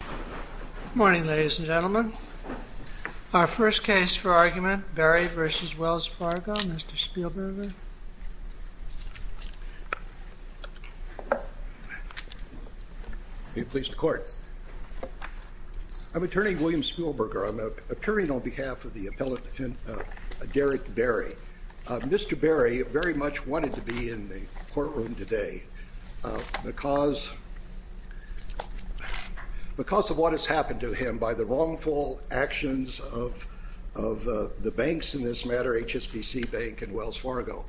Good morning, ladies and gentlemen. Our first case for argument, Berry v. Wells Fargo. Mr. Spielberger. Are you pleased to court? I'm Attorney William Spielberger. I'm appearing on behalf of the appellate defendant, Derick Berry. Mr. Berry very much wanted to be in the courtroom today because of what has happened to him by the wrongful actions of the banks in this matter, HSBC Bank and Wells Fargo.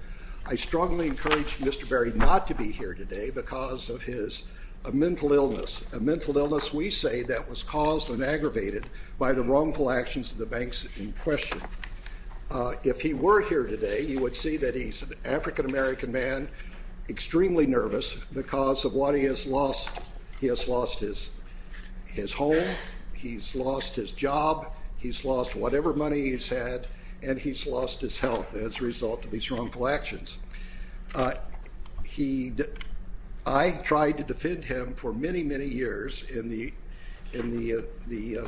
I strongly encourage Mr. Berry not to be here today because of his mental illness, a mental illness we say that was caused and aggravated by the wrongful actions of the banks in question. If he were here today, you would see that he's an African American man, extremely nervous because of what he has lost. He has lost his home, he's lost his job, he's lost whatever money he's had, and he's lost his health as a result of these wrongful actions. I tried to defend him for many, many years in the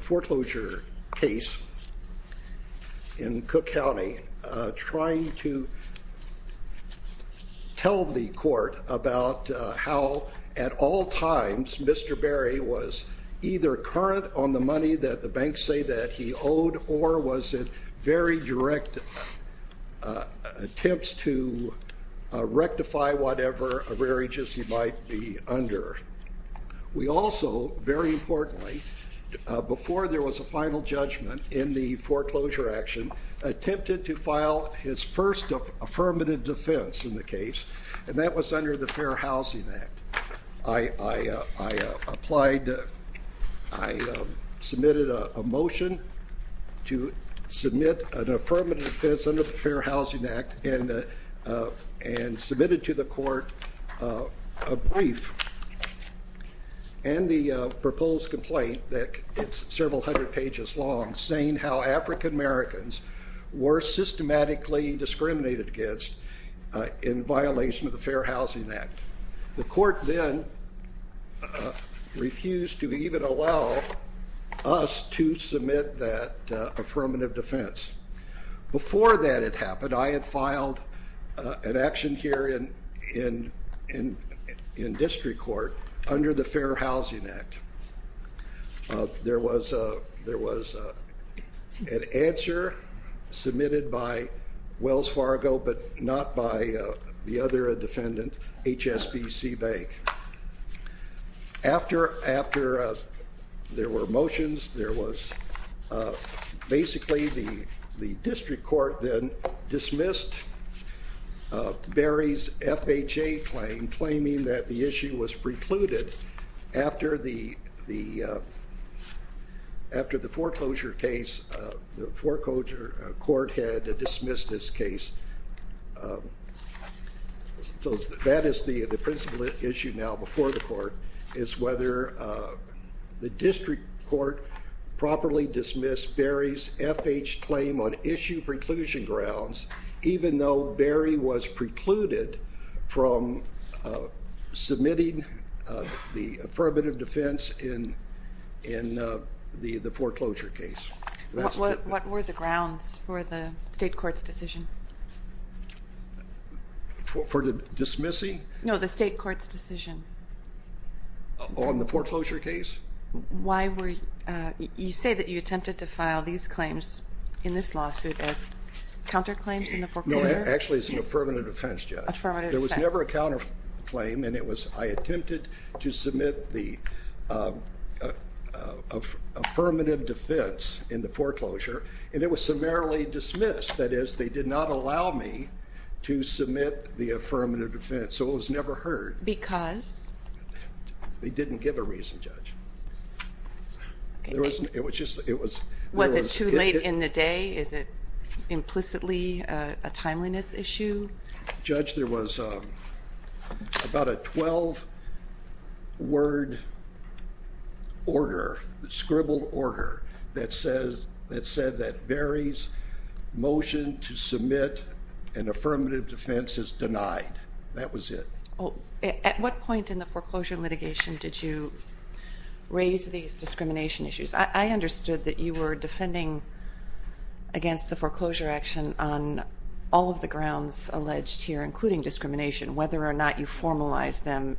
foreclosure case in Cook County, trying to tell the court about how at all times Mr. Berry was either current on the money that the banks say that he owed, or was it very direct attempts to rectify whatever arrearages he might be under. We also, very importantly, before there was a final judgment in the foreclosure action, attempted to file his first affirmative defense in the case, and that was under the Fair Housing Act. I applied, I submitted a motion to submit an affirmative defense under the Fair Housing Act and submitted to the court a brief and the proposed complaint that it's several hundred pages long, saying how African Americans were systematically discriminated against in violation of the Fair Housing Act. The court then refused to even allow us to submit that affirmative defense. Before that had happened, I had filed an action here in district court under the Fair Housing Act. There was an answer submitted by Wells Fargo, but not by the other defendant, HSBC Bank. After there were motions, there was basically the district court then dismissed Berry's FHA claim, claiming that the issue was precluded after the foreclosure case. The foreclosure court had dismissed this case. That is the principal issue now before the court, is whether the district court properly dismissed Berry's FHA claim on issue preclusion grounds, even though Berry was precluded from submitting the affirmative defense in the foreclosure case. What were the grounds for the state court's decision? For the dismissing? No, the state court's decision. On the foreclosure case? Why were, you say that you attempted to file these claims in this lawsuit as counterclaims in the foreclosure? No, actually it's an affirmative defense, Judge. Affirmative defense. There was never a counterclaim, and I attempted to submit the affirmative defense in the foreclosure, and it was summarily dismissed. That is, they did not allow me to submit the affirmative defense, so it was never heard. Because? They didn't give a reason, Judge. Was it too late in the day? Is it implicitly a timeliness issue? Judge, there was about a 12-word order, scribbled order, that said that Berry's motion to submit an affirmative defense is denied. That was it. At what point in the foreclosure litigation did you raise these discrimination issues? I understood that you were defending against the foreclosure action on all of the grounds alleged here, including discrimination, whether or not you formalized them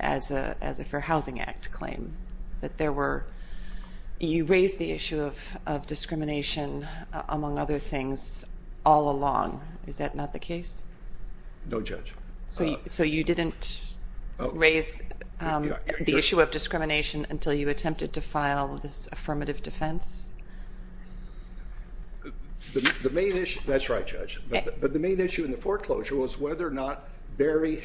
as a Fair Housing Act claim. You raised the issue of discrimination, among other things, all along. Is that not the case? No, Judge. So you didn't raise the issue of discrimination until you attempted to file this affirmative defense? That's right, Judge. But the main issue in the foreclosure was whether or not Berry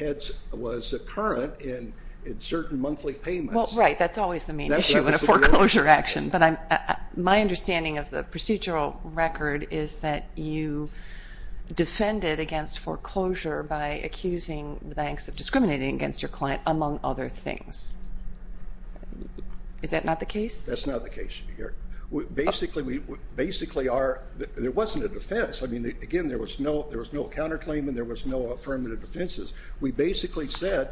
was a current in certain monthly payments. Well, right. That's always the main issue in a foreclosure action. But my understanding of the procedural record is that you defended against foreclosure by accusing the banks of discriminating against your client, among other things. Is that not the case? That's not the case, Judge. Basically, there wasn't a defense. I mean, again, there was no counterclaim and there was no affirmative defenses. We basically said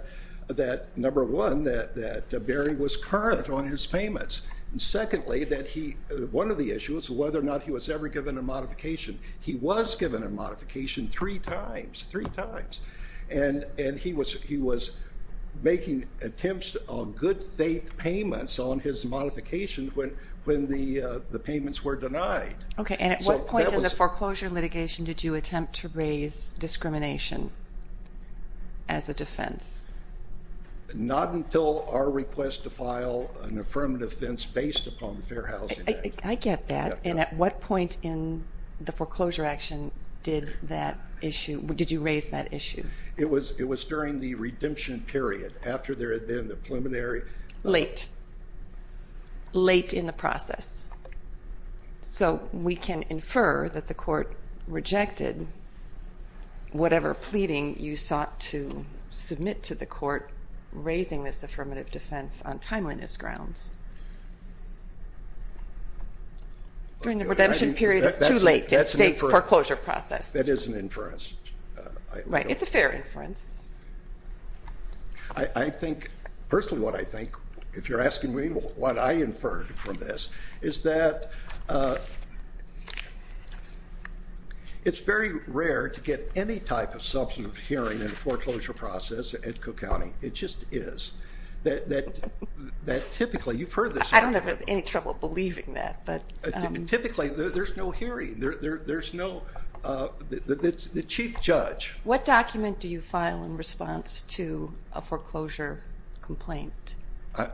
that, number one, that Berry was current on his payments. And secondly, one of the issues was whether or not he was ever given a modification. He was given a modification three times, three times. And he was making attempts on good faith payments on his modification when the payments were denied. Okay. And at what point in the foreclosure litigation did you attempt to raise discrimination as a defense? Not until our request to file an affirmative defense based upon the Fair Housing Act. I get that. And at what point in the foreclosure action did that issue, did you raise that issue? It was during the redemption period, after there had been the preliminary. Late. Late in the process. So we can infer that the court rejected whatever pleading you sought to submit to the court, raising this affirmative defense on timeliness grounds. During the redemption period, it's too late to state foreclosure process. That is an inference. Right. It's a fair inference. I think, personally what I think, if you're asking me what I inferred from this, is that it's very rare to get any type of substantive hearing in a foreclosure process at Cook County. It just is. That typically, you've heard this. I don't have any trouble believing that, but. Typically, there's no hearing. There's no, the chief judge. What document do you file in response to a foreclosure complaint?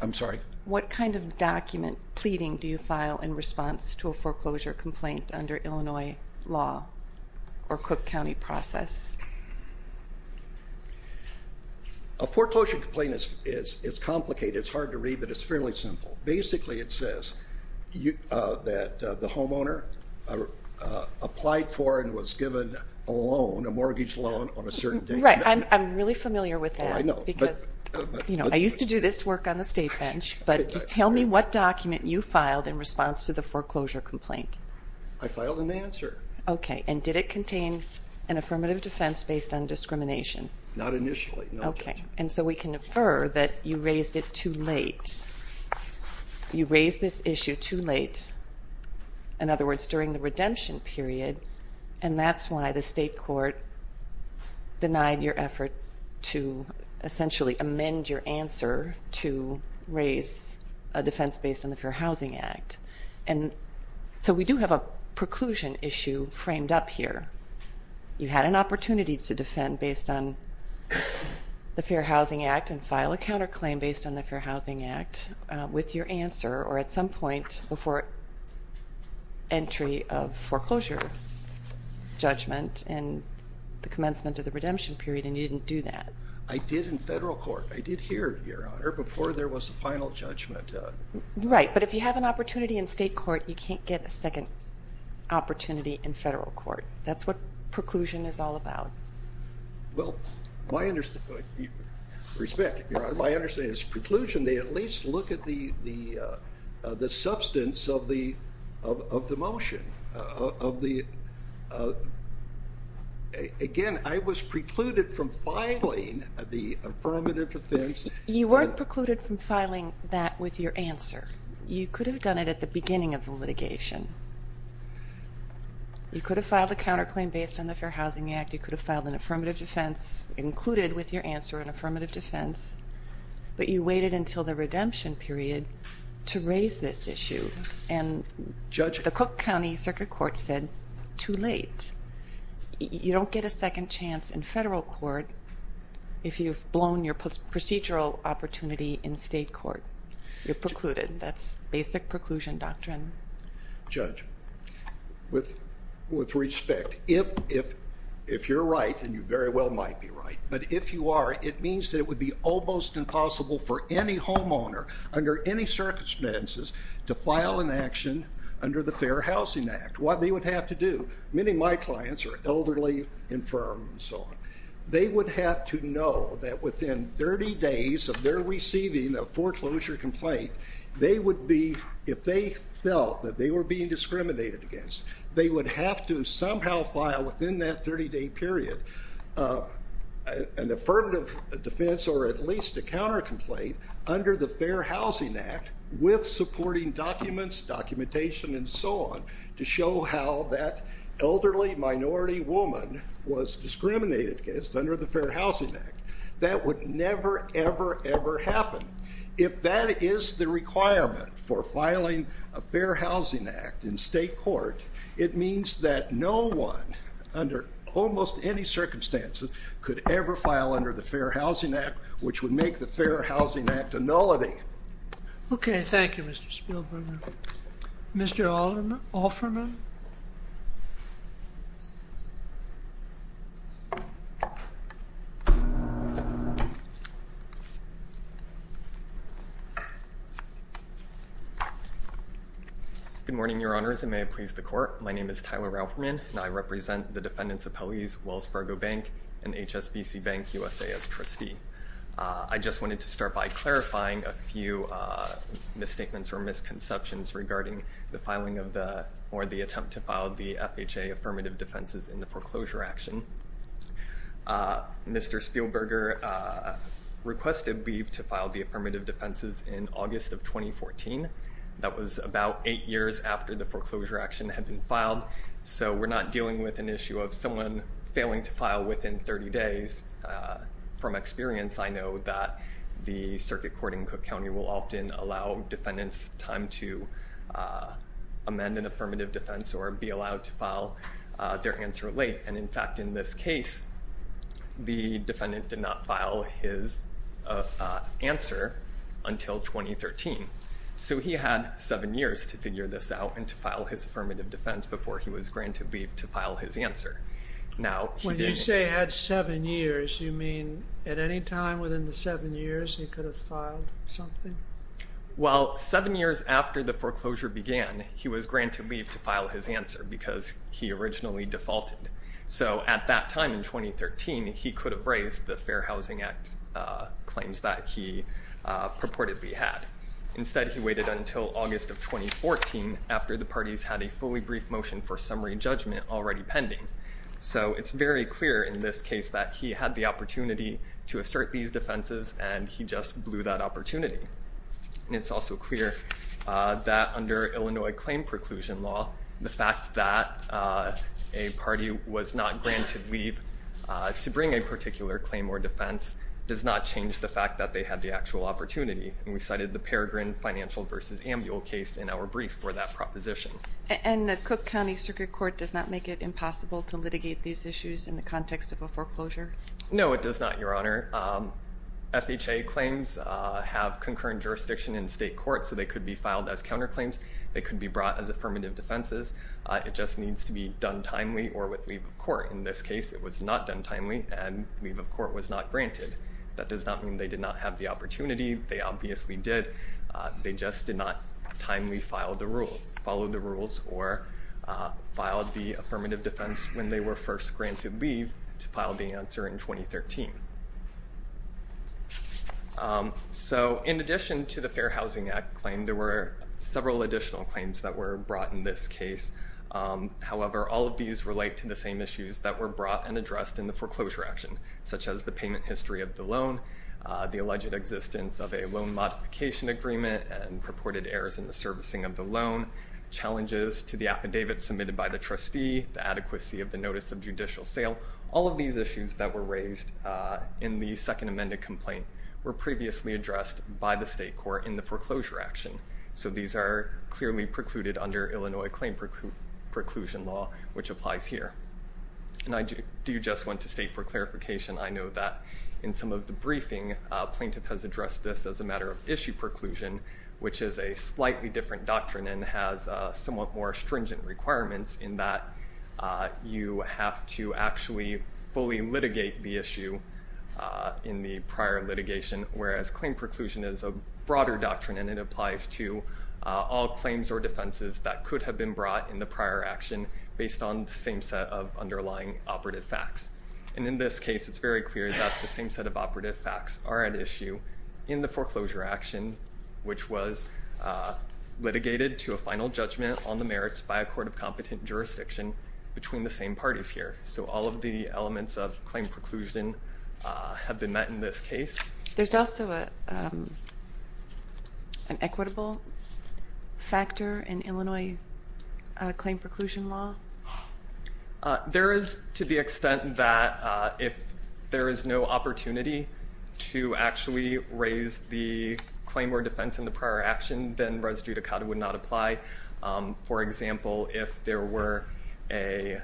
I'm sorry? What kind of document pleading do you file in response to a foreclosure complaint under Illinois law or Cook County process? A foreclosure complaint is complicated. It's hard to read, but it's fairly simple. Basically, it says that the homeowner applied for and was given a loan, a mortgage loan, on a certain date. Right. I'm really familiar with that. Oh, I know. I used to do this work on the state bench, but just tell me what document you filed in response to the foreclosure complaint. I filed an answer. Okay. And did it contain an affirmative defense based on discrimination? Not initially. Okay. And so we can infer that you raised it too late. You raised this issue too late, in other words, during the redemption period, and that's why the state court denied your effort to essentially amend your answer to raise a defense based on the Fair Housing Act. And so we do have a preclusion issue framed up here. You had an opportunity to defend based on the Fair Housing Act and file a counterclaim based on the Fair Housing Act with your answer, or at some point before entry of foreclosure judgment in the commencement of the redemption period, and you didn't do that. I did in federal court. I did here, Your Honor, before there was a final judgment. Right. But if you have an opportunity in state court, you can't get a second opportunity in federal court. That's what preclusion is all about. Well, my understanding is preclusion, they at least look at the substance of the motion. Again, I was precluded from filing the affirmative defense. You weren't precluded from filing that with your answer. You could have done it at the beginning of the litigation. You could have filed a counterclaim based on the Fair Housing Act. You could have filed an affirmative defense included with your answer, an affirmative defense. But you waited until the redemption period to raise this issue. And the Cook County Circuit Court said too late. You don't get a second chance in federal court if you've blown your procedural opportunity in state court. You're precluded. That's basic preclusion doctrine. Judge, with respect, if you're right, and you very well might be right, but if you are, it means that it would be almost impossible for any homeowner under any circumstances to file an action under the Fair Housing Act. What they would have to do, many of my clients are elderly, infirm, and so on. They would have to know that within 30 days of their receiving a foreclosure complaint, if they felt that they were being discriminated against, they would have to somehow file within that 30-day period an affirmative defense or at least a counter complaint under the Fair Housing Act with supporting documents, documentation, and so on to show how that elderly minority woman was discriminated against under the Fair Housing Act. That would never, ever, ever happen. If that is the requirement for filing a Fair Housing Act in state court, it means that no one under almost any circumstances could ever file under the Fair Housing Act, which would make the Fair Housing Act a nullity. Okay. Thank you, Mr. Spielberg. Mr. Offerman? Good morning, Your Honors, and may it please the court. My name is Tyler Offerman, and I represent the defendants' appellees, Wells Fargo Bank and HSBC Bank USA as trustee. I just wanted to start by clarifying a few misstatements or misconceptions regarding the filing of the or the attempt to file the FHA affirmative defenses in the foreclosure action. Mr. Spielberger requested leave to file the affirmative defenses in August of 2014. That was about eight years after the foreclosure action had been filed, so we're not dealing with an issue of someone failing to file within 30 days. From experience, I know that the circuit court in Cook County will often allow defendants time to amend an affirmative defense or be allowed to file their answer late. And, in fact, in this case, the defendant did not file his answer until 2013. So he had seven years to figure this out and to file his affirmative defense before he was granted leave to file his answer. When you say had seven years, you mean at any time within the seven years he could have filed something? Well, seven years after the foreclosure began, he was granted leave to file his answer because he originally defaulted. So at that time in 2013, he could have raised the Fair Housing Act claims that he purportedly had. Instead, he waited until August of 2014 after the parties had a fully brief motion for summary judgment already pending. So it's very clear in this case that he had the opportunity to assert these defenses, and he just blew that opportunity. And it's also clear that under Illinois claim preclusion law, the fact that a party was not granted leave to bring a particular claim or defense does not change the fact that they had the actual opportunity. And we cited the Peregrine Financial v. Ambul case in our brief for that proposition. And the Cook County Circuit Court does not make it impossible to litigate these issues in the context of a foreclosure? No, it does not, Your Honor. FHA claims have concurrent jurisdiction in state court, so they could be filed as counterclaims. They could be brought as affirmative defenses. It just needs to be done timely or with leave of court. In this case, it was not done timely, and leave of court was not granted. That does not mean they did not have the opportunity. They obviously did. They just did not timely follow the rules or file the affirmative defense when they were first granted leave to file the answer in 2013. So in addition to the Fair Housing Act claim, there were several additional claims that were brought in this case. However, all of these relate to the same issues that were brought and addressed in the foreclosure action, such as the payment history of the loan, the alleged existence of a loan modification agreement and purported errors in the servicing of the loan, challenges to the affidavit submitted by the trustee, the adequacy of the notice of judicial sale. All of these issues that were raised in the second amended complaint were previously addressed by the state court in the foreclosure action. So these are clearly precluded under Illinois claim preclusion law, which applies here. And I do just want to state for clarification, I know that in some of the briefing, plaintiff has addressed this as a matter of issue preclusion, which is a slightly different doctrine and has somewhat more stringent requirements in that you have to actually fully litigate the issue in the prior litigation, whereas claim preclusion is a broader doctrine, and it applies to all claims or defenses that could have been brought in the prior action based on the same set of underlying operative facts. And in this case, it's very clear that the same set of operative facts are at issue in the foreclosure action, which was litigated to a final judgment on the merits by a court of competent jurisdiction between the same parties here. So all of the elements of claim preclusion have been met in this case. There's also an equitable factor in Illinois claim preclusion law. There is to the extent that if there is no opportunity to actually raise the claim or defense in the prior action, then res judicata would not apply. For example, if there were a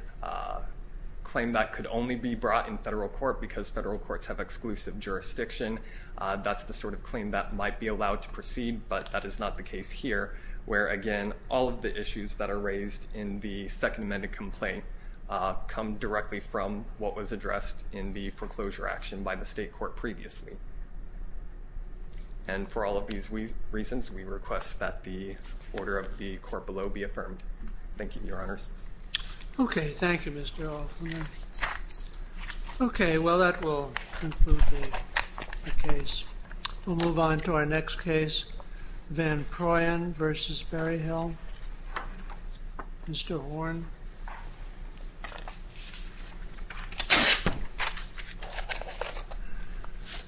claim that could only be brought in federal court because federal courts have exclusive jurisdiction, that's the sort of claim that might be allowed to proceed. But that is not the case here, where, again, all of the issues that are raised in the Second Amendment complaint come directly from what was addressed in the foreclosure action by the state court previously. And for all of these reasons, we request that the order of the court below be affirmed. Thank you, Your Honors. Okay, thank you, Mr. Hoffman. Okay, well, that will conclude the case. We'll move on to our next case, Van Proyen v. Berryhill. Mr. Horne.